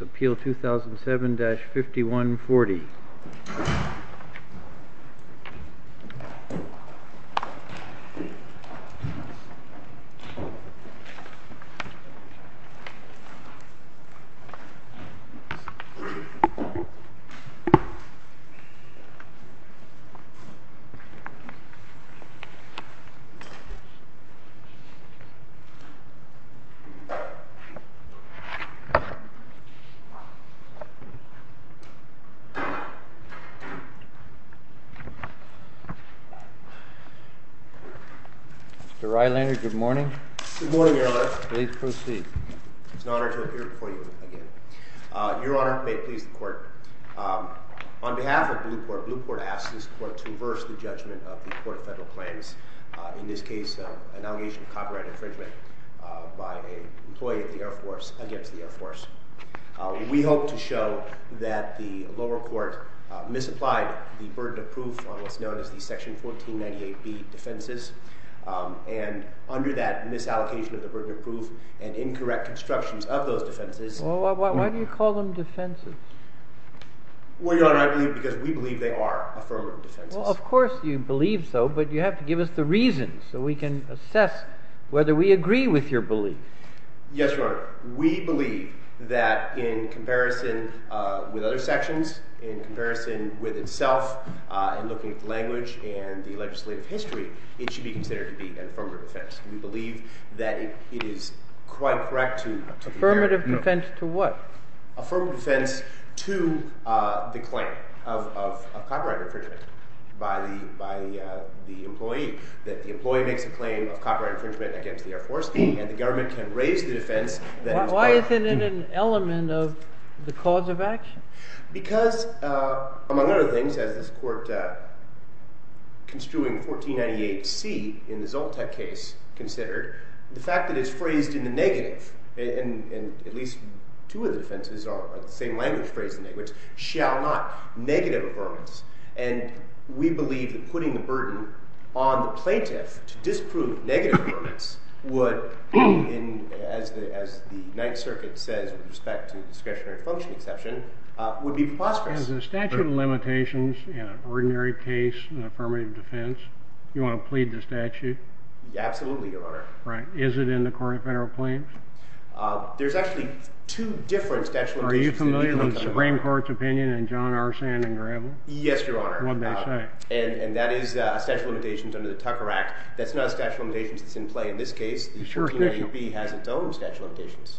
Appeal 2007-5140 Mr. Rylander, good morning. Good morning, Your Honor. Please proceed. It's an honor to appear before you again. Your Honor, may it please the Court, on behalf of Blueport, Blueport asks this Court to reverse the judgment of the case of an allegation of copyright infringement by an employee of the Air Force against the Air Force. We hope to show that the lower court misapplied the burden of proof on what's known as the Section 1498B defenses and under that misallocation of the burden of proof and incorrect constructions of those defenses Well, why do you call them defenses? Well, Your Honor, I believe because we believe they are affirmative defenses. Well, of course you believe so, but you have to give us the reasons so we can assess whether we agree with your belief. Yes, Your Honor. We believe that in comparison with other sections, in comparison with itself, in looking at the language and the legislative history, it should be considered to be an affirmative defense. We believe that it is quite correct to Affirmative defense to what? Affirmative defense to the claim of copyright infringement by the employee that the employee makes a claim of copyright infringement against the Air Force and the government can raise the defense Why isn't it an element of the cause of action? Because, among other things, as this Court construing 1498C in the Zoltek case considered, the fact that it's phrased in the negative and at least two of the defenses are the same language which shall not negative affirmance and we believe that putting the burden on the plaintiff to disprove negative affirmance would as the Ninth Circuit says with respect to discretionary function exception, would be preposterous. Is the statute of limitations in an ordinary case an affirmative defense? Do you want to plead the statute? Absolutely, Your Honor. Is it in the court of federal claims? There's actually two different statute of limitations. Are you familiar with the Supreme Court's opinion in John Arsene and Gravel? Yes, Your Honor. And that is a statute of limitations under the Tucker Act. That's not a statute of limitations that's in play in this case. The 1498B has its own statute of limitations.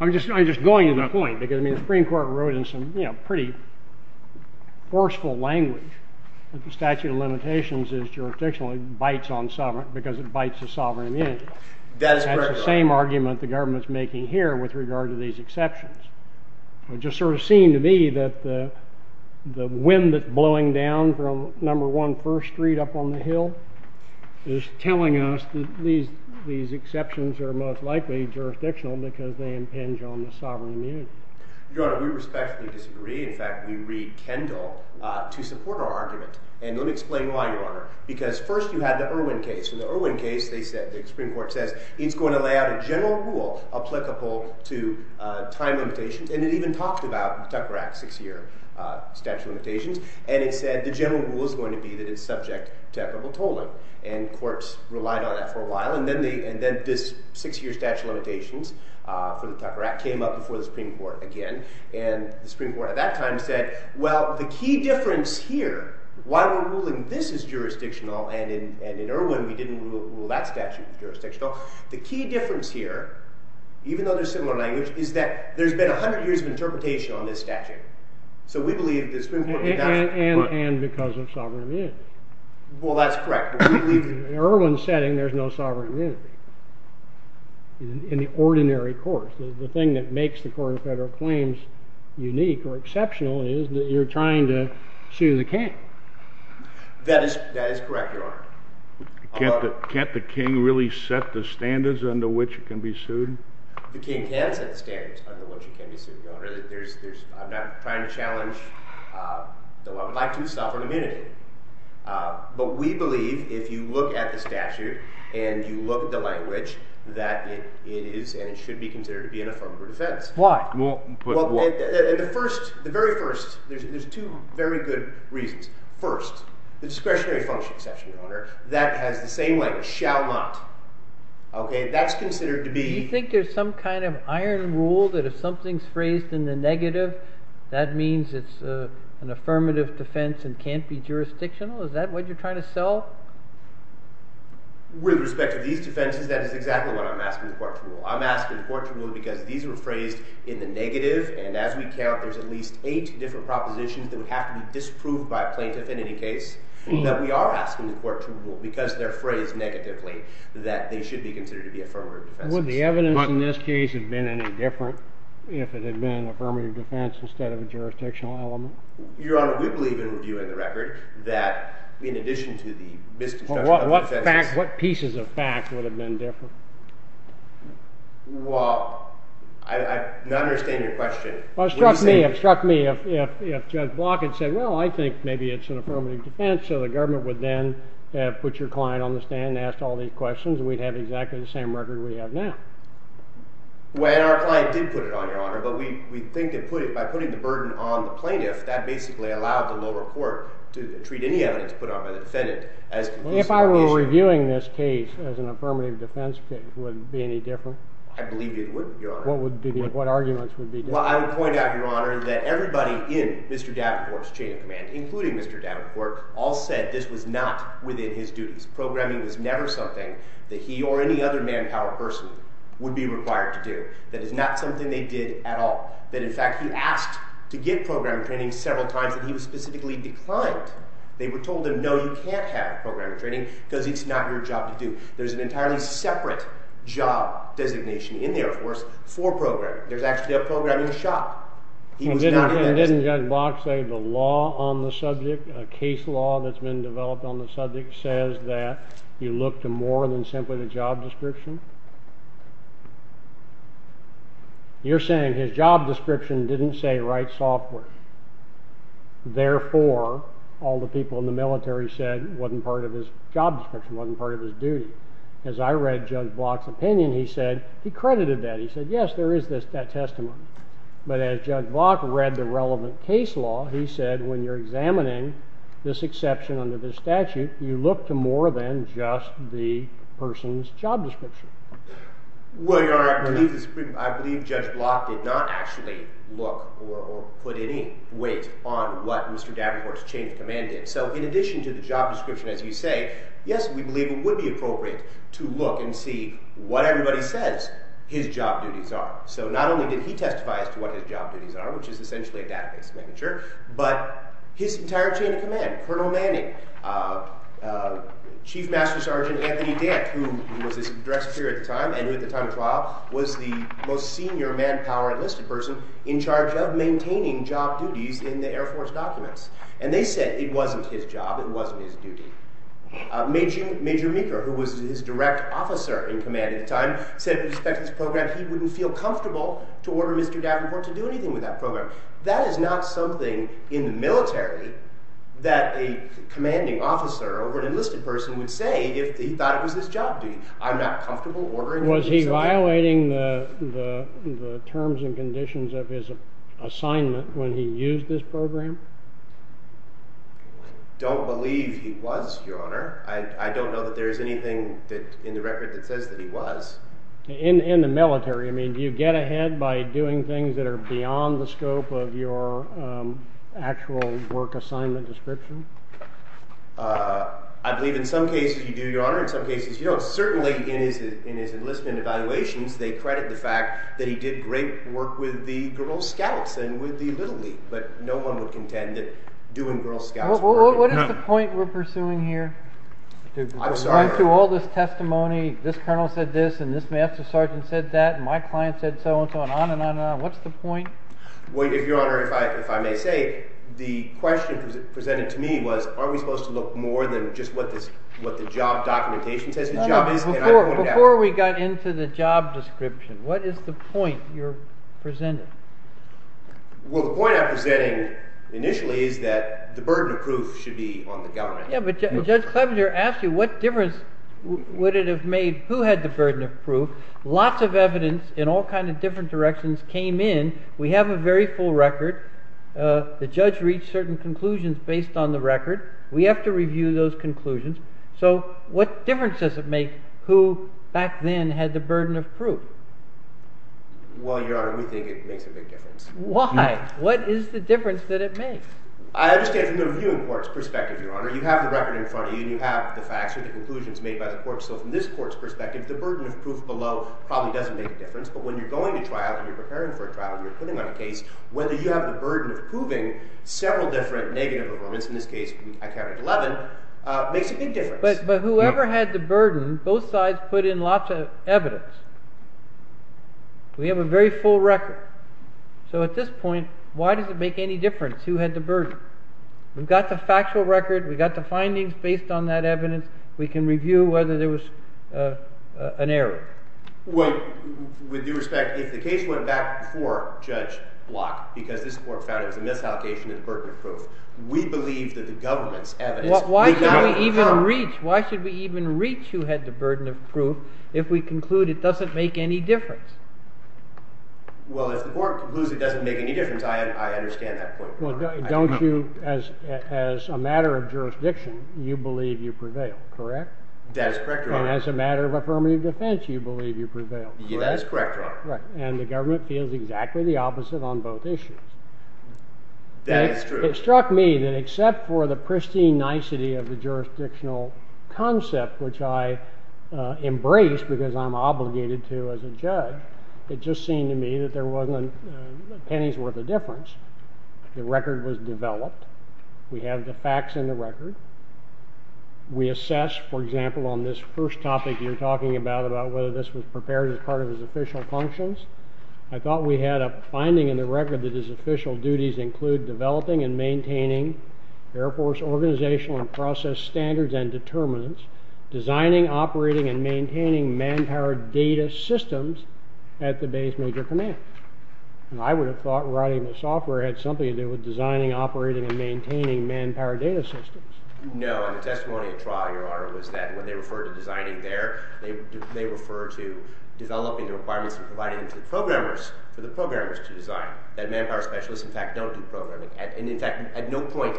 I'm just going to the point because the Supreme Court wrote in some pretty forceful language that the statute of limitations is jurisdictional because it bites the sovereign immunity. That is correct, Your Honor. That's the argument the government's making here with regard to these exceptions. It just sort of seemed to me that the wind that's blowing down from number one first street up on the hill is telling us that these exceptions are most likely jurisdictional because they impinge on the sovereign immunity. Your Honor, we respectfully disagree. In fact, we read Kendall to support our argument. And let me explain why, Your Honor. Because first you had the Irwin case. In the Irwin case, the Supreme Court says it's going to lay out a general rule applicable to time limitations. And it even talked about the Tucker Act six-year statute of limitations. And it said the general rule is going to be that it's subject to equitable tolling. And courts relied on that for a while. And then this six-year statute of limitations for the Tucker Act came up before the Supreme Court again. And the Supreme Court at that time said, well, the key difference here, why are we ruling this as jurisdictional and in Irwin we didn't rule that statute as jurisdictional, the key difference here, even though there's similar language, is that there's been 100 years of interpretation on this statute. So we believe the Supreme Court did that. And because of sovereign immunity. Well, that's correct. In an Irwin setting, there's no sovereign immunity. In the ordinary courts. The thing that makes the Court of Federal Claims unique or exceptional is that you're trying to sue the king. That is correct, Your Honor. Can't the king really set the standards under which it can be sued? The king can set the standards under which it can be sued, Your Honor. I'm not trying to challenge my two sovereign immunity. But we believe if you look at the statute and you look at the language, that it is and should be considered to be an affirmative defense. Why? There's two very good reasons. First, the discretionary function, Your Honor, that has the same language, shall not. That's considered to be... Do you think there's some kind of iron rule that if something's phrased in the negative, that means it's an affirmative defense and can't be jurisdictional? Is that what you're trying to sell? With respect to these defenses, that is exactly what I'm asking the Court to rule. I'm asking the Court to rule because these were phrased in the negative and as we count, there's at least eight different propositions that would have to be disproved by a plaintiff in any case that we are asking the Court to rule because they're phrased negatively that they should be considered to be affirmative defenses. Would the evidence in this case have been any different if it had been an affirmative defense instead of a jurisdictional element? Your Honor, we believe in reviewing the record that in addition to the misconstruction of the defenses... What pieces of fact would have been different? Well... I don't understand your question. It struck me if Judge Block had said well, I think maybe it's an affirmative defense so the government would then put your client on the stand and ask all these questions and we'd have exactly the same record we have now. Well, our client did put it on, Your Honor, but we think that by putting the burden on the plaintiff that basically allowed the lower court to treat any evidence put on by the defendant as... If I were reviewing this case as an affirmative defense, would it be any different? I believe it would, Your Honor. What arguments would be different? Well, I would point out, Your Honor, that everybody in Mr. Davenport's chain of command, including Mr. Davenport, all said this was not within his duties. Programming was never something that he or any other manpower person would be required to do. That is not something they did at all. That, in fact, he asked to get programming training several times and he was specifically declined. They were told him, no, you can't have programming training because it's not your job to do. There's an entirely separate job designation in the Air Force for programming. There's actually a programming shop. He was not... Didn't Judge Block say the law on the subject, a case law that's been developed on the subject, says that you look to more than simply the job description? You're saying his job description didn't say write software. Therefore, all the people in the military said it wasn't part of his job description, wasn't part of his duty. As I read Judge Block's opinion, he said... He credited that. He said, yes, there is this testimony. But as Judge Block read the relevant case law, he said when you're examining this exception under this statute, you look to more than just the person's job description. Well, Your Honor, I believe Judge Block did not actually look or put any weight on what Mr. Davenport's chain of command did. So, in addition to the job description, as you say, yes, we believe it would be appropriate to look and see what everybody says his job duties are. So, not only did he testify as to what his job duties are, which is essentially a database signature, but his entire chain of command, Colonel Manning, Chief Master Sergeant Anthony Dent, who was his direct superior at the time, and who at the time of trial was the most senior manpower enlisted person in charge of maintaining job duties in the Air Force documents. And they said it wasn't his job, it wasn't his duty. Major Meeker, who was his direct officer in command at the time, said in respect to this program he wouldn't feel comfortable to order Mr. Davenport to do anything with that program. That is not something in the military that a commanding officer over an enlisted person would say if he thought it was his job duty. I'm not comfortable ordering... Was he violating the terms and conditions of his assignment when he used this program? I don't believe he was, Your Honor. I don't know that there is anything in the record that says that he was. In the military, do you get ahead by doing things that are beyond the scope actual work assignment description? I believe in some cases you do, Your Honor. In some cases in evaluations, they credit the fact that he did great work with the Girl Scouts and with the Little League. But no one would contend that doing Girl Scouts... What is the point we're pursuing here? Going through all this testimony, this colonel said this, and this master sergeant said that, and my client said so and so, and on and on and on. What's the point? If I may say, the question presented to me was aren't we supposed to look more than just what the job documentation says Before we got into the job description, what is the point you're presenting? Well, the point I'm presenting initially is that the burden of proof should be on the government. Yeah, but Judge Clevenger asked you what difference would it have made? Who had the burden of proof? Lots of evidence in all kinds of different directions came in. We have a very full record. The judge reached certain conclusions based on the record. We have to review those conclusions. So what difference does it make who back then had the burden of proof? Well, Your Honor, we think it makes a big difference. Why? What is the difference that it makes? I understand from the reviewing court's perspective, Your Honor, you have the record in front of you and you have the facts or the conclusions made by the court. So from this court's perspective, the burden of proof below probably doesn't make a difference, but when you're going to trial and you're preparing for a trial and you're putting on a case, whether you have the burden of proving several different negative elements, in this case I counted 11, makes a big difference. But whoever had the burden, both sides put in lots of evidence. We have a very full record. So at this point, why does it make any difference who had the burden? We've got the factual record. We've got the findings based on that evidence. We can review whether there was an error. With due respect, if the case went back before Judge Block because this court found it was a misallocation of the burden of proof, we believe that the government's evidence... Why should we even reach who had the burden of proof if we conclude it doesn't make any difference? Well, if the court concludes it doesn't make any difference, I understand that point. As a matter of jurisdiction, you believe you prevail, correct? That is correct, Your Honor. And as a matter of affirmative defense, you believe you prevail, correct? That is correct, Your Honor. And the government feels exactly the opposite on both issues. That is true. It struck me that except for the pristine nicety of the jurisdictional concept, which I embrace because I'm obligated to as a judge, it just seemed to me that there wasn't a penny's worth of difference. The record was developed. We have the facts in the record. We assess, for example, on this first topic you're talking about about whether this was prepared as part of his official functions. I thought we had a finding in the record that his official duties include developing and maintaining Air Force organizational and process standards and determinants, designing, operating, and maintaining manpower data systems at the base major command. And I would have thought writing the software had something to do with designing, operating, and maintaining manpower data systems. No, and the testimony at trial, Your Honor, was that when they referred to designing there, they referred to developing the requirements provided to the programmers, for the programmers to design, that manpower specialists in fact don't do programming, and in fact at no point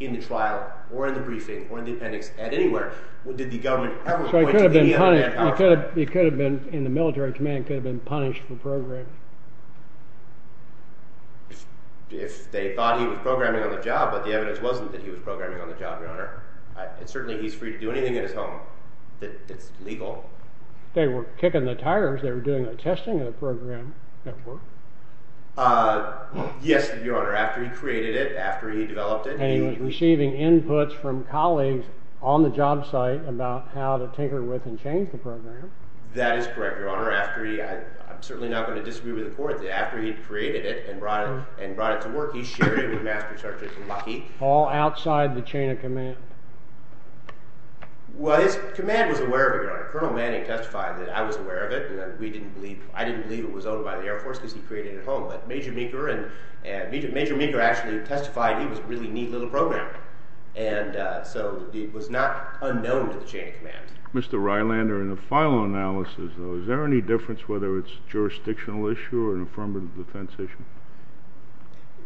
in the trial, or in the briefing, or in the appendix, at anywhere did the government ever point to any other manpower. It could have been in the military command, it could have been punished for programming. If they thought he was programming on the job, but the evidence wasn't that he was programming on the job, Your Honor. And certainly he's free to do anything in his home that's legal. They were kicking the tires, they were doing a testing of the program at work? Yes, Your Honor, after he created it, after he developed it. And he was receiving inputs from colleagues on the job site about how to tinker with and change the program. That is correct, Your Honor. I'm certainly not going to disagree with the court that after he created it, and brought it to work, he shared it with Master Sergeant Luckey. All outside the chain of command. Well, his command was aware of it, Your Honor. Colonel Manning testified that I was aware of it. I didn't believe it was owned by the Air Force because he created it at home. But Major Meeker actually testified he was a really neat little programmer. And so it was not unknown to the chain of command. Mr. Rylander, in a final analysis, is there any difference whether it's a jurisdictional issue or an affirmative defense issue?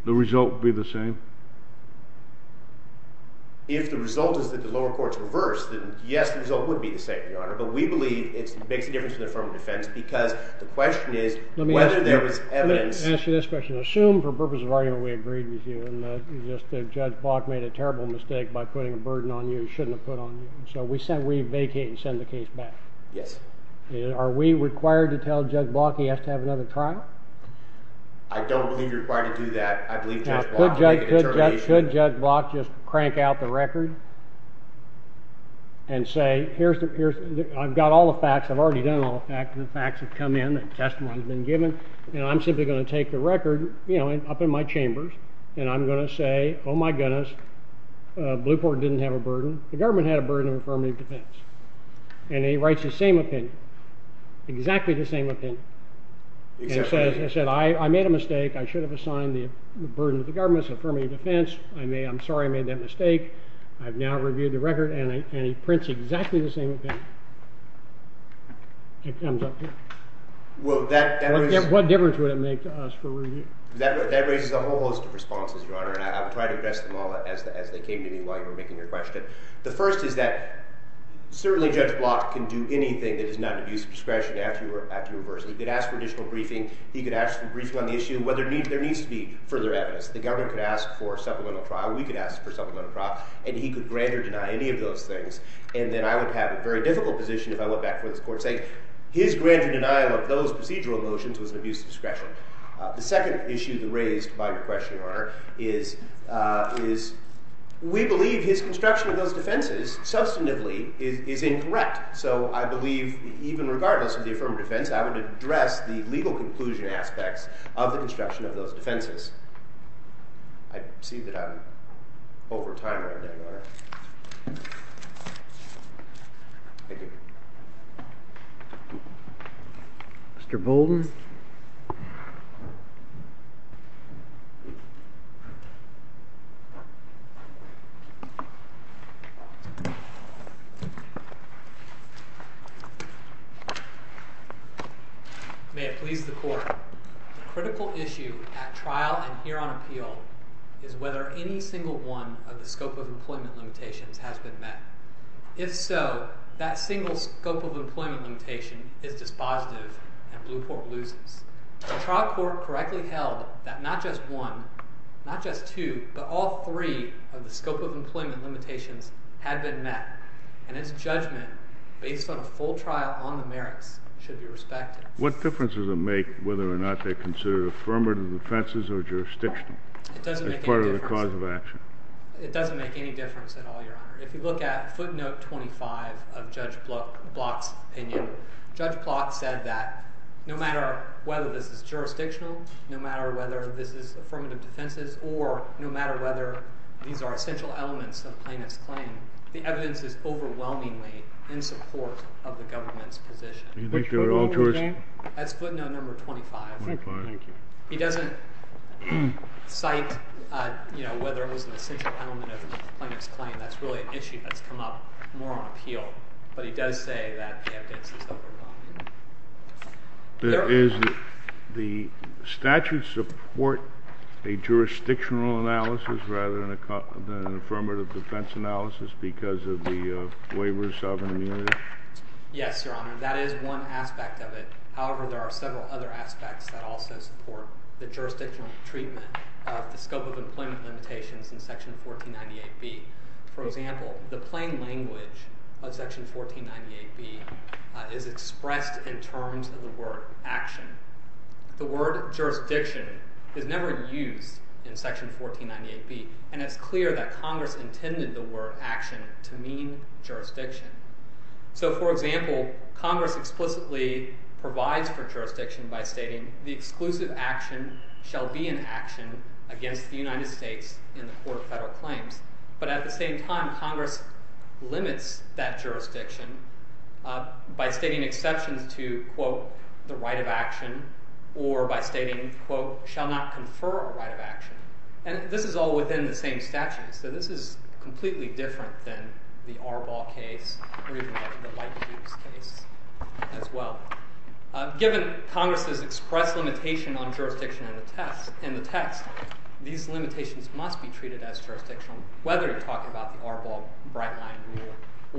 The result would be the same? If the result is that the lower court reversed, then yes, the result would be the same, Your Honor. But we believe it makes a difference in the affirmative defense because the question is whether there was evidence... Let me ask you this question. Assume, for purpose of argument, we agreed with you and that Judge Block made a terrible mistake by putting a burden on you he shouldn't have put on you. So we vacate and send the case back. Yes. Are we required to tell Judge Block he has to have another trial? I don't believe you're required to do that. I believe Judge Block can make a determination. Could Judge Block just crank out the record and say, I've got all the facts, I've already done all the facts, the facts have come in, the testimony has been given, and I'm simply going to take the record up in my chambers and I'm going to say, oh my goodness, Blueport didn't have a burden. The government had a burden of affirmative defense. And he writes the same opinion. Exactly the same opinion. And he says, I made a mistake, I should have assigned the burden to the government's affirmative defense, I'm sorry I made that mistake, I've now reviewed the record, and he prints exactly the same opinion. It comes up here. What difference would it make to us for review? That raises a whole host of responses, Your Honor, and I'll try to address them all as they came to me while you were making your question. The first is that certainly Judge Block can do anything that is not an abuse of discretion after you reverse it. He could ask for additional briefing, he could ask for briefing on the issue, whether there needs to be further evidence. The government could ask for a supplemental trial, we could ask for a supplemental trial, and he could grant or deny any of those things. And then I would have a very difficult position if I went back to what this Court is saying. His grant or denial of those procedural motions was an abuse of discretion. The second issue raised by your question, Your Honor, is we believe his construction of those defenses, substantively, is incorrect. So I believe even regardless of the affirmative defense, I would address the legal conclusion aspects of the construction of those defenses. I see that I'm over time right now, Your Honor. Thank you. Mr. Bolden? May it please the Court, the critical issue at trial and here on appeal is whether any single one of the scope of employment limitations has been met. If so, that single scope of employment limitation is dispositive and Blueport loses. The trial court correctly held that not just one, not just two, but all three of the scope of employment limitations had been met. And his judgment based on a full trial on the merits should be respected. What difference does it make whether or not they're considered affirmative defenses or jurisdictional as part of the cause of action? It doesn't make any difference at all, Your Honor. If you look at footnote 25 of Judge Bloch's opinion, Judge Bloch said that no matter whether this is jurisdictional, no matter whether this is affirmative defenses, or no matter whether these are essential elements of the plaintiff's claim, the evidence is overwhelmingly in support of the government's position. Which footnote was that? That's footnote number 25. He doesn't cite whether it was an essential element of the plaintiff's claim. That's really an issue that's come up more on appeal, but he does say that the evidence is overwhelming. Does the statute support a jurisdictional analysis rather than an affirmative defense analysis because of the waiver of sovereign immunity? Yes, Your Honor. That is one aspect of it. However, there are several other aspects that also support the jurisdictional treatment of the scope of employment limitations in section 1498B. For example, the plain language of section 1498B is expressed in terms of the word action. The word jurisdiction is never used in section 1498B, and it's clear that Congress intended the word action to mean jurisdiction. For example, Congress explicitly provides for jurisdiction by stating the exclusive action shall be an action against the United States in the court of federal claims. At the same time, Congress limits that jurisdiction by stating exceptions to, quote, the right of action or by stating, quote, shall not confer a right of action. And this is all within the same statute, so this is completely different than the Arbaugh case or even the Leibniz case as well. Given Congress's expressed limitation on jurisdiction in the text, these limitations must be treated as jurisdictional, whether you're talking about the Arbaugh brightline rule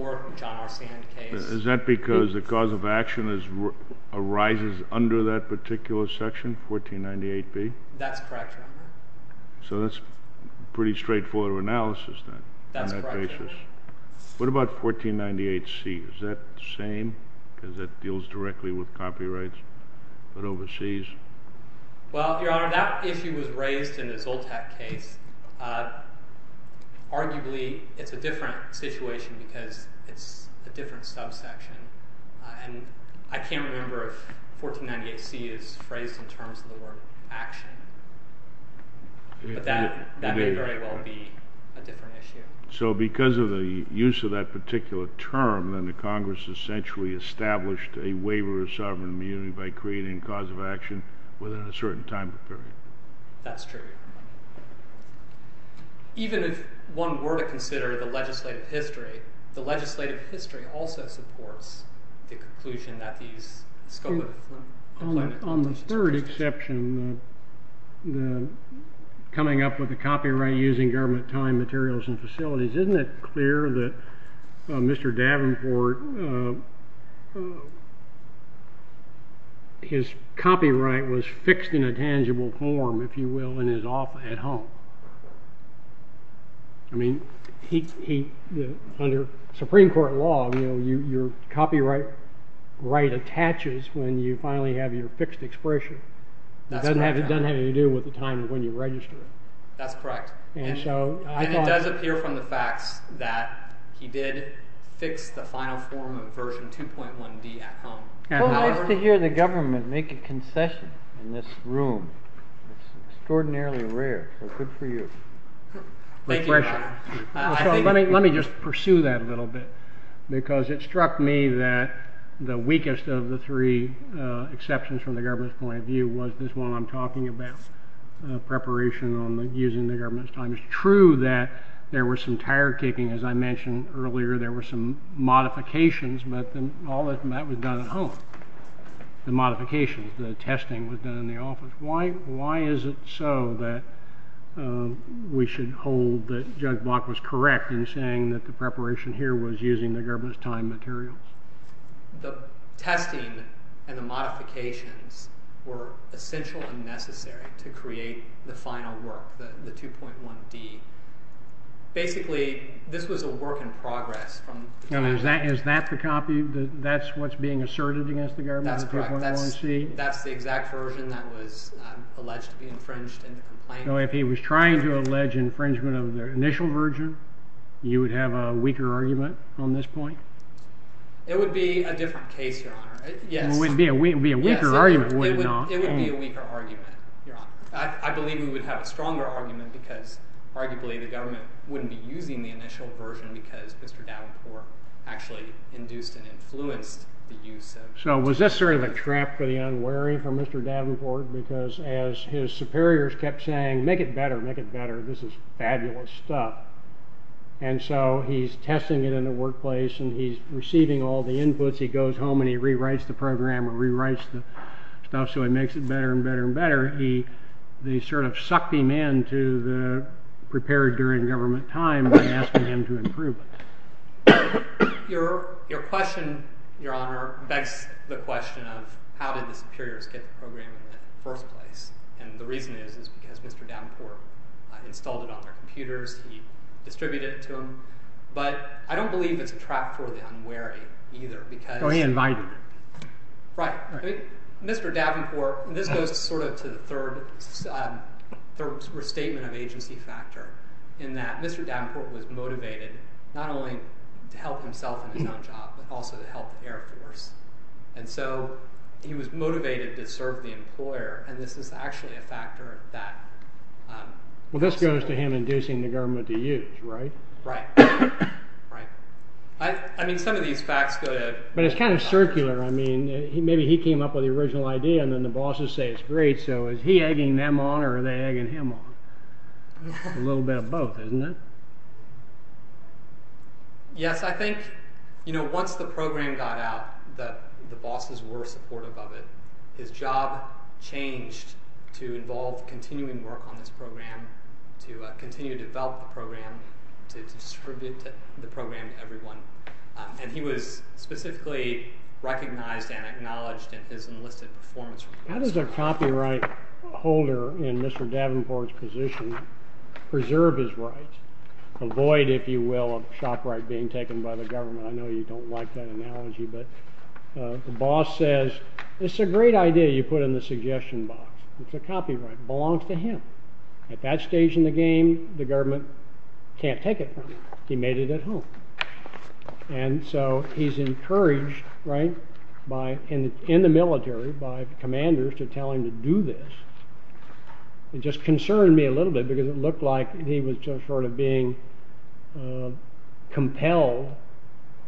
or the John R. Sand case. Is that because the cause of action arises under that particular section, 1498B? That's correct, Your Honor. So that's pretty straightforward of analysis then. That's correct, Your Honor. What about 1498C? Is that the same? Because that deals directly with copyrights but overseas? Well, Your Honor, that issue was raised in the Zoltak case. Arguably, it's a different situation because it's a different subsection. And I can't remember if 1498C is phrased in terms of the word action. But that may very well be a different issue. So because of the use of that particular term, then the Congress essentially established a waiver of sovereign immunity by creating a cause of action within a certain time period. That's true. Even if one were to consider the legislative history, the legislative history also supports the conclusion that these... On the third exception, the coming up with the copyright using government time, materials, and facilities, isn't it clear that Mr. Davenport his copyright was fixed in a tangible form, if you will, and is off at home? I mean, under Supreme Court law, your copyright attaches when you finally have your fixed expression. It doesn't have anything to do with the time when you register it. And it does appear from the facts that he did fix the final form of version 2.1D at home. How nice to hear the government make a concession in this room. It's extraordinarily rare, so good for you. Let me just pursue that a little bit, because it struck me that the weakest of the three exceptions from the government's point of view was this one I'm talking about, preparation on using the government's time. It's true that there were some tire kicking, as I mentioned earlier, there were some modifications, but all of that was done at home. The modifications, the testing was done in the office. Why is it so that we should hold that Judge Block was correct in saying that the preparation here was using the government's time materials? The testing and the modifications were essential and necessary to create the final work, the 2.1D. Basically, this was a work in progress. Is that the copy? That's what's being asserted against the government? That's correct. That's the exact version that was alleged to be infringed in the complaint. So if he was trying to allege infringement of the initial version, you would have a weaker argument on this point? It would be a different case, Your Honor. It would be a weaker argument, would it not? It would be a weaker argument, Your Honor. I believe we would have a stronger argument because arguably the government wouldn't be using the initial version because Mr. Davenport actually induced and influenced the use of That's sort of a trap for the unwary for Mr. Davenport because as his superiors kept saying, make it better, make it better, this is fabulous stuff. And so he's testing it in the workplace and he's receiving all the inputs. He goes home and he rewrites the program or rewrites the stuff so he makes it better and better and better. They sort of sucked him into the prepared during government time and asking him to improve it. Your question, Your Honor, begs the question of how did the superiors get the program in the first place? And the reason is because Mr. Davenport installed it on their computers. He distributed it to them. But I don't believe it's a trap for the unwary either because... Oh, he invited them. Right. Mr. Davenport, this goes sort of to the third statement of agency factor in that Mr. Davenport was motivated not only to help himself in his own job, but also to help the Air Force. And so he was motivated to serve the employer and this is actually a factor that... Well, this goes to him inducing the government to use, right? Right. I mean, some of these facts go to... But it's kind of circular. Maybe he came up with the original idea and then the bosses say it's great, so is he egging them on or are they egging him on? A little bit of both, isn't it? Yes, I think once the program got out that the bosses were supportive of it. His job changed to involve continuing work on this program to continue to develop the program to distribute the program to everyone. And he was specifically recognized and acknowledged in his enlisted performance report. How does a copyright holder in Mr. Davenport's position preserve his right, avoid, if you will, a copyright being taken by the government? I know you don't like that analogy, but the boss says it's a great idea you put in the suggestion box. It's a copyright. It belongs to him. At that stage in the game the government can't take it from him. He made it at home. And so he's encouraged, right, in the military by commanders to tell him to do this. It just concerned me a little bit because it looked like he was sort of being compelled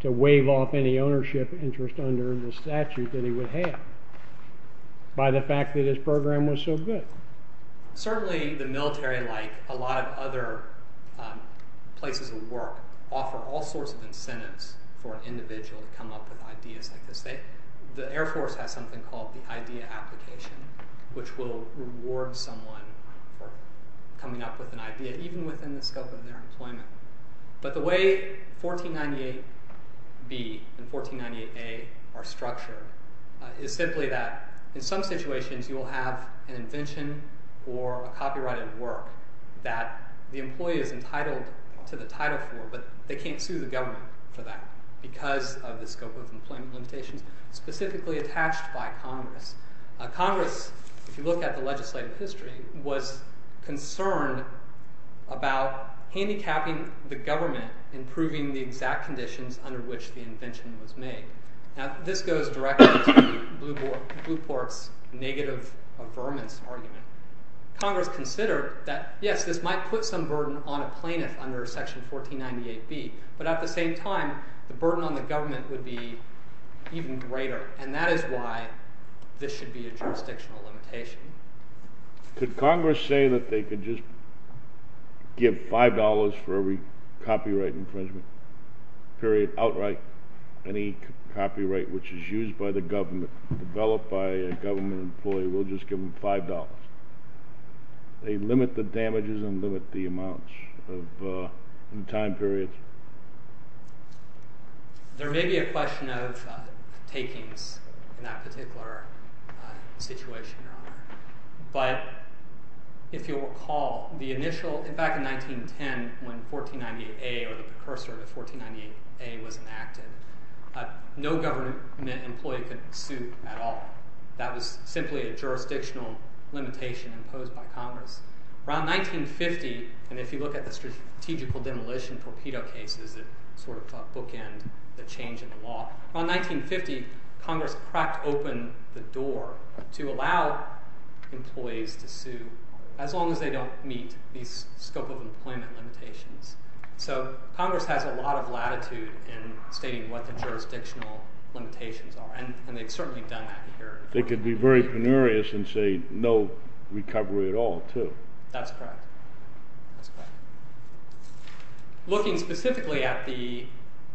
to waive off any ownership interest under the statute that he would have by the fact that his program was so good. Certainly the military, like a lot of other places of work, offer all sorts of incentives for an individual to come up with ideas like this. The Air Force has something called the Idea Application which will reward someone for coming up with an idea, even within the scope of their employment. But the way 1498B and 1498A are structured is simply that in some situations you will have an invention or a copyrighted work that the employee is entitled to the title for, but they can't sue the government for that because of the scope of employment limitations specifically attached by Congress. Congress, if you look at the legislative history, was concerned about handicapping the government in proving the exact conditions under which the invention was made. Now this goes directly to Blueport's negative affirmance argument. Congress considered that yes, this might put some burden on a plaintiff under section 1498B, but at the same time the burden on the government would be even greater, and that is why this should be a jurisdictional limitation. Could Congress say that they could just give $5 for every copyright infringement period outright? Any copyright which is used by the government, developed by a government employee, we'll just give them $5. They limit the damages and limit the amounts in time periods. There may be a question of takings in that particular situation. If you'll recall, back in 1910 when 1498A or the precursor of 1498A was enacted, no government employee could sue at all. That was simply a jurisdictional limitation imposed by Congress. Around 1950, and if you look at the strategic demolition torpedo cases that bookend the change in the law, around 1950 Congress cracked open the door to allow employees to sue as long as they don't meet these scope of employment limitations. Congress has a lot of latitude in stating what the jurisdictional limitations are, and they've certainly done that here. They could be very penurious and say no recovery at all, too. That's correct. Looking specifically at the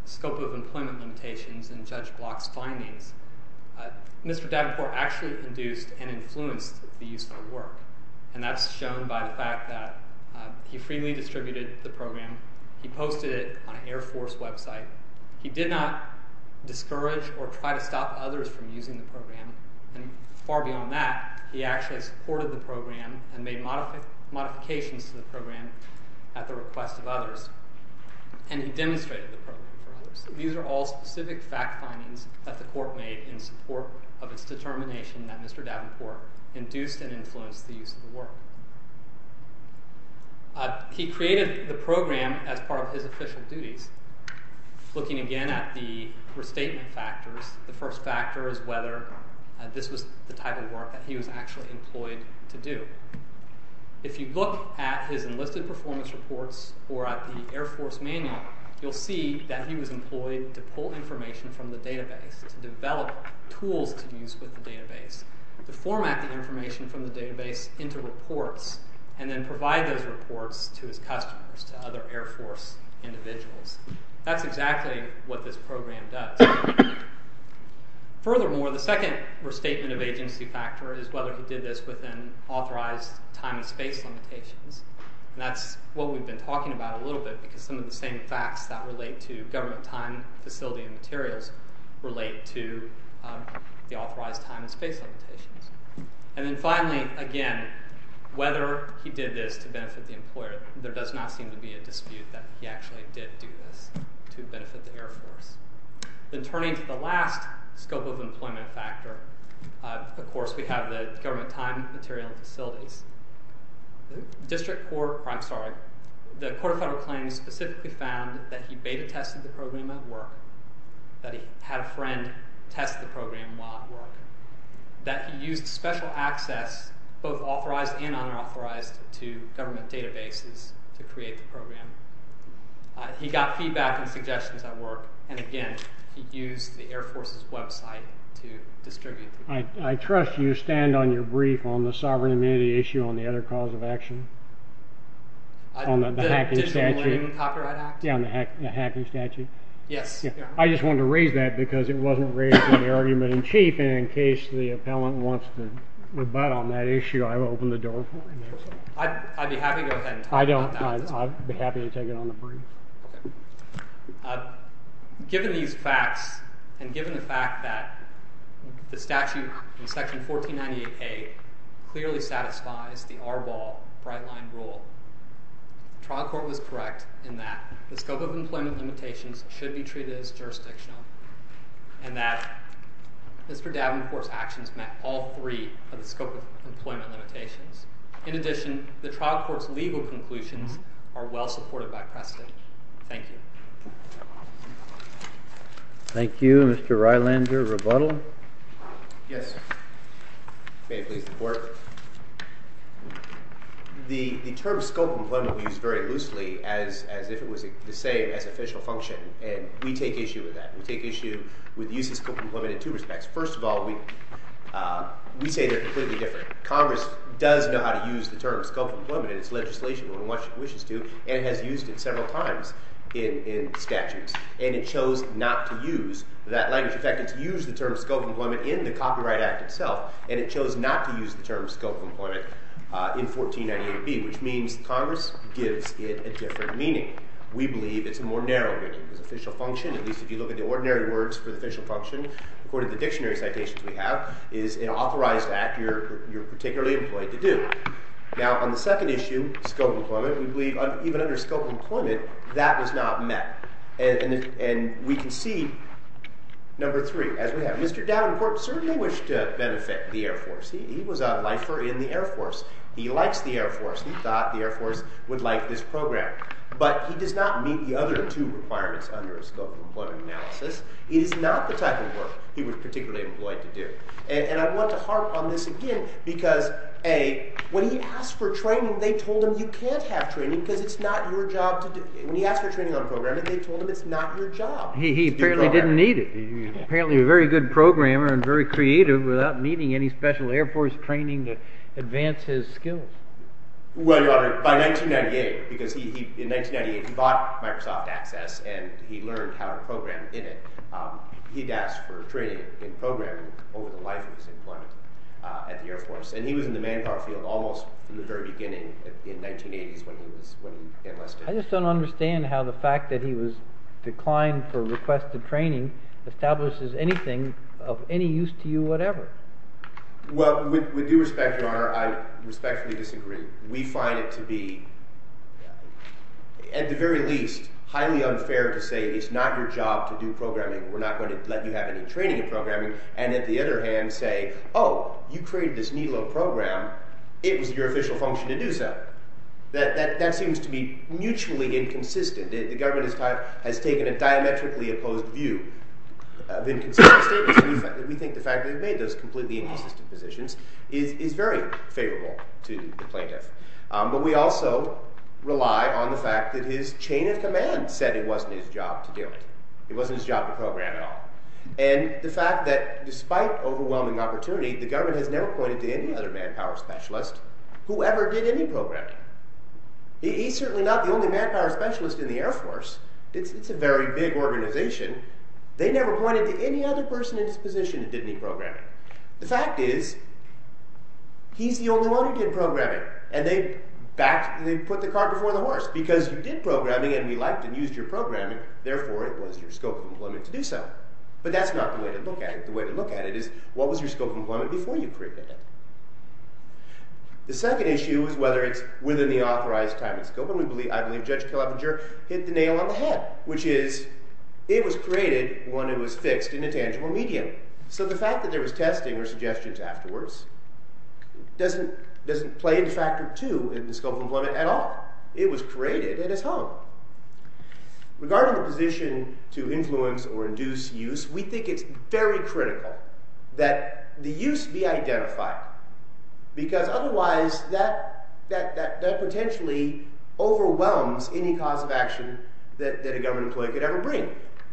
scope of employment limitations in Judge Block's findings, Mr. Davenport actually induced and influenced the use of work, and that's shown by the fact that he freely distributed the program. He posted it on an Air Force website. He did not discourage or try to stop others from using the program, and far beyond that he actually supported the program and made modifications to the program at the request of others. These are all specific fact findings that the court made in support of its determination that Mr. Davenport induced and influenced the use of the work. He created the program as part of his official duties. Looking again at the restatement factors, the first factor is whether this was the type of work that he was actually employed to do. If you look at his enlisted performance reports, or at least the Air Force manual, you'll see that he was employed to pull information from the database, to develop tools to use with the database, to format the information from the database into reports, and then provide those reports to his customers, to other Air Force individuals. That's exactly what this program does. Furthermore, the second restatement of agency factor is whether he did this within authorized time and space limitations. That's what we've been talking about a little bit, because some of the same facts that relate to government time, facility, and materials relate to the authorized time and space limitations. Finally, again, whether he did this to benefit the employer, there does not seem to be a dispute that he actually did do this to benefit the Air Force. Then turning to the last scope of employment factor, of course we have the government time, material, and facilities. The District Court, I'm sorry, the Court of Federal Claims specifically found that he beta-tested the program at work, that he had a friend test the program while at work, that he used special access, both authorized and unauthorized, to government databases to create the program. He got feedback and suggestions at work, and again, he used the Air Force's website to distribute the data. I trust you stand on your brief on the sovereign issue on the other cause of action? On the hacking statute? Yeah, on the hacking statute. I just wanted to raise that because it wasn't raised in the argument in chief, and in case the appellant wants to rebut on that issue, I will open the door for him. I'd be happy to go ahead and talk about that. I'd be happy to take it on the brief. Okay. Given these facts, and given the fact that the statute in section 1498A clearly satisfies the Arbol brightline rule, the trial court was correct in that the scope of employment limitations should be treated as jurisdictional, and that Mr. Davenport's actions met all three of the scope of employment limitations. In addition, the trial court's legal conclusions are well supported by precedent. Thank you. Thank you, Mr. Rylander. Rebuttal? Yes. May it please the court. The term scope of employment is used very loosely as if it was the same as official function, and we take issue with that. We take issue with the use of scope of employment in two respects. First of all, we say they're completely different. Congress does know how to use the term scope of employment in its legislation when it wishes to, and has used it several times in statutes. And it chose not to use that language. In fact, it's used the term scope of employment in the Copyright Act itself, and it chose not to use the term scope of employment in 1498B, which means Congress gives it a different meaning. We believe it's a more narrow meaning. The official function, at least if you look at the ordinary words for the official function, according to the dictionary citations we have, is an authorized act you're Now, on the second issue, scope of employment, we believe even under scope of employment, that was not met. And we can see, number three, as we have, Mr. Davenport certainly wished to benefit the Air Force. He was a lifer in the Air Force. He likes the Air Force. He thought the Air Force would like this program. But he does not meet the other two requirements under scope of employment analysis. It is not the type of work he was particularly employed to do. And I want to harp on this again because, A, when he asked for training, they told him you can't have training because it's not your job to do it. When he asked for training on programming, they told him it's not your job. He apparently didn't need it. He was apparently a very good programmer and very creative without needing any special Air Force training to advance his skills. Well, Your Honor, by 1998, because in 1998 he bought Microsoft Access and he learned how to program in it. He'd asked for training in programming over the life of his employment at the Air Force. And he was in the manpower field almost from the very beginning in 1980s when he enlisted. I just don't understand how the fact that he was declined for requested training establishes anything of any use to you whatever. Well, with due respect, Your Honor, I respectfully disagree. We find it to be at the very least highly unfair to say it's not your job to do programming. We're not going to let you have any training in programming. And at the other hand say, oh, you created this silo program. It was your official function to do so. That seems to be mutually inconsistent. The government has taken a diametrically opposed view of inconsistent statements. We think the fact that he made those completely inconsistent positions is very favorable to the plaintiff. But we also rely on the fact that his chain of command said it wasn't his job to do it. It wasn't his job to program at all. And the fact that despite overwhelming opportunity, the government has never pointed to any other manpower specialist who ever did any programming. He's certainly not the only manpower specialist in the Air Force. It's a very big organization. They never pointed to any other person in this position who did any programming. The fact is he's the only one who did programming. And they put the cart before the horse. Because you did programming and we liked and used your programming, therefore it was your scope of employment to do so. But that's not the way to look at it. The way to look at it is, what was your scope of employment before you created it? The second issue is whether it's within the authorized time and scope. And I believe Judge Kelepinger hit the nail on the head, which is it was created when it was fixed in a tangible medium. So the fact that there was testing or suggestions afterwards doesn't play into factor two in the scope of employment at all. It was created and it's hung. Regarding the position to influence or induce use, we think it's very critical that the use be identified. Because otherwise, that potentially overwhelms any cause of action that a government employee could ever bring.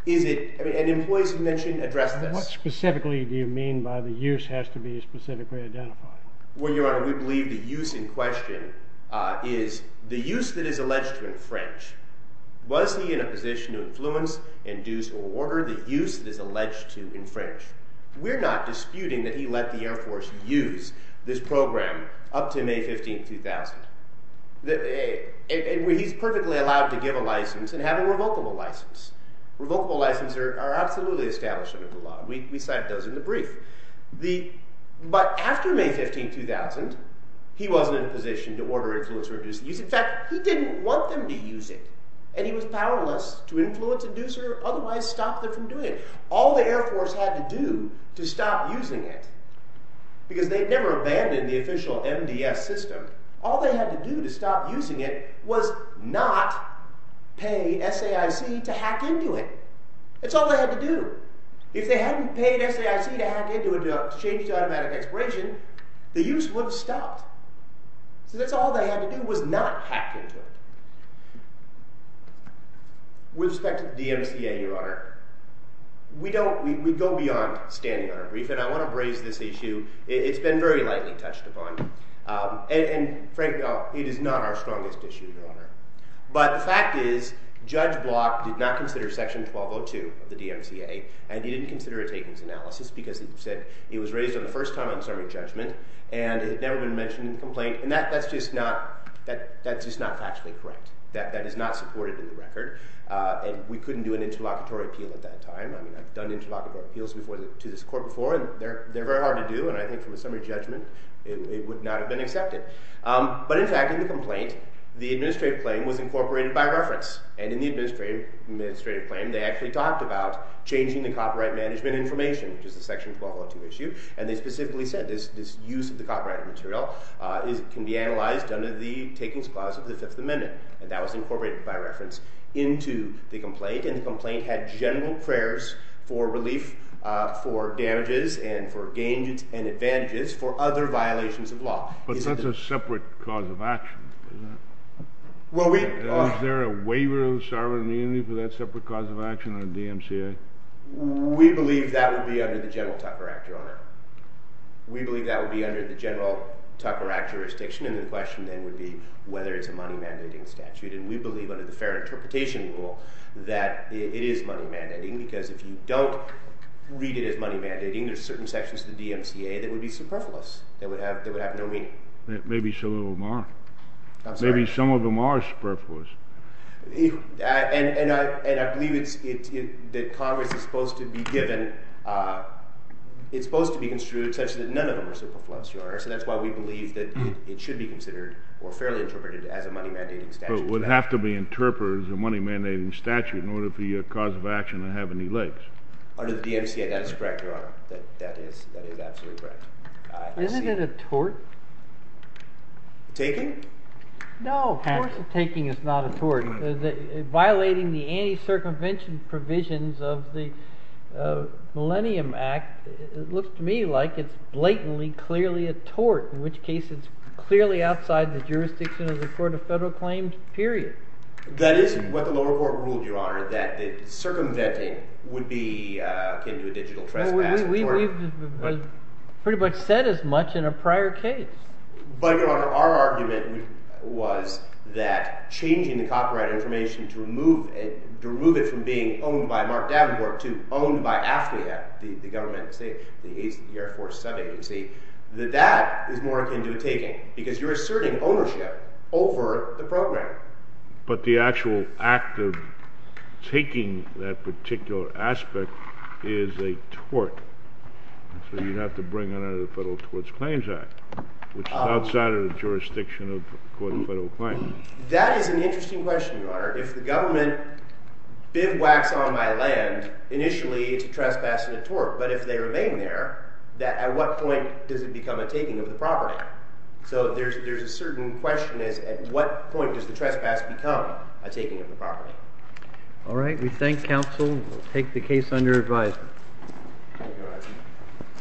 And employees mentioned addressed this. What specifically do you mean by the use has to be specifically identified? Well, Your Honor, we believe the use in question is the use that is alleged to infringe. Was he in a position to influence, induce, or order the use that is alleged to infringe? We're not disputing that he let the Air Force use this program up to May 15, 2000. He's perfectly allowed to give a license and have a revocable license. Revocable licenses are absolutely established under the law. We cite those in the brief. But after May 15, 2000, he wasn't in a position to order, influence, or induce use. In fact, he didn't want them to use it. And he was powerless to influence, induce, or otherwise stop them from doing it. All the Air Force had to do to stop using it because they'd never abandoned the official MDS system. All they had to do to stop using it was not pay SAIC to hack into it. That's all they had to do. If they hadn't paid SAIC to hack into it to change to automatic expiration, the use would have stopped. So that's all they had to do was not hack into it. With respect to the DMCA, Your Honor, we go beyond standing on our brief. And I want to raise this issue. It's been very lightly touched upon. And, frankly, it is not our strongest issue, Your Honor. But the fact is, Judge Block did not consider Section 1202 of the DMCA, and he didn't consider a takings analysis because he said it was raised for the first time on summary judgment and it had never been mentioned in the complaint. And that's just not factually correct. That is not supported in the record. We couldn't do an interlocutory appeal at that time. I've done interlocutory appeals to this court before, and they're very hard to do. And I think from a summary judgment, it would not have been accepted. But, in fact, in the complaint, the administrative claim was incorporated by reference. And in the administrative claim, they actually talked about changing the copyright management information, which is the Section 1202 issue. And they specifically said this use of the copyright material can be analyzed under the takings clause of the Fifth Amendment. And that was incorporated by reference into the complaint. And the complaint had general prayers for relief for damages and for gains and advantages for other violations of law. But that's a separate cause of action, isn't it? Is there a waiver of sovereign immunity for that separate cause of action on the DMCA? We believe that would be under the general Tucker Act, Your Honor. We believe that would be under the general Tucker Act jurisdiction. And the question, then, would be whether it's a money-mandating statute. And we believe, under the fair interpretation rule, that it is money-mandating because if you don't read it as money-mandating, there's certain sections of the DMCA that would be superfluous. They would have no meaning. Maybe some of them are. Maybe some of them are superfluous. And I believe that Congress is supposed to be given it's supposed to be construed such that none of them are superfluous, Your Honor. So that's why we believe that it should be considered or fairly interpreted as a money-mandating statute. But it would have to be interpreted as a money-mandating statute in order for your cause of action to have any legs. Under the DMCA, that is correct, Your Honor. That is absolutely correct. Isn't it a tort? Taking? No, of course a taking is not a tort. Violating the anti-circumvention provisions of the Millennium Act looks to me like it's blatantly clearly a tort, in which case it's clearly outside the jurisdiction of the Court of Federal Claims, period. That is what the lower court ruled, Your Honor, that circumventing would be akin to a digital trespass. We've pretty much said as much in a prior case. But, Your Honor, our argument was that changing the copyright information to remove it from being owned by Mark Davenport to owned by AFCA, the government, the Air Force sub-agency, that that is more akin to a taking because you're asserting ownership over the program. But the actual act of taking that particular aspect is a tort. So you'd have to bring it under the Federal Tort Claims Act, which is outside of the jurisdiction of the Court of Federal Claims. That is an interesting question, Your Honor. If the government bivouacs on my land, initially it's a trespass and a tort, but if they remain there, at what point does it become a taking of the property? So there's a certain question is at what point does the trespass become a taking of the property? Alright, we thank counsel. We'll take the case under advisement.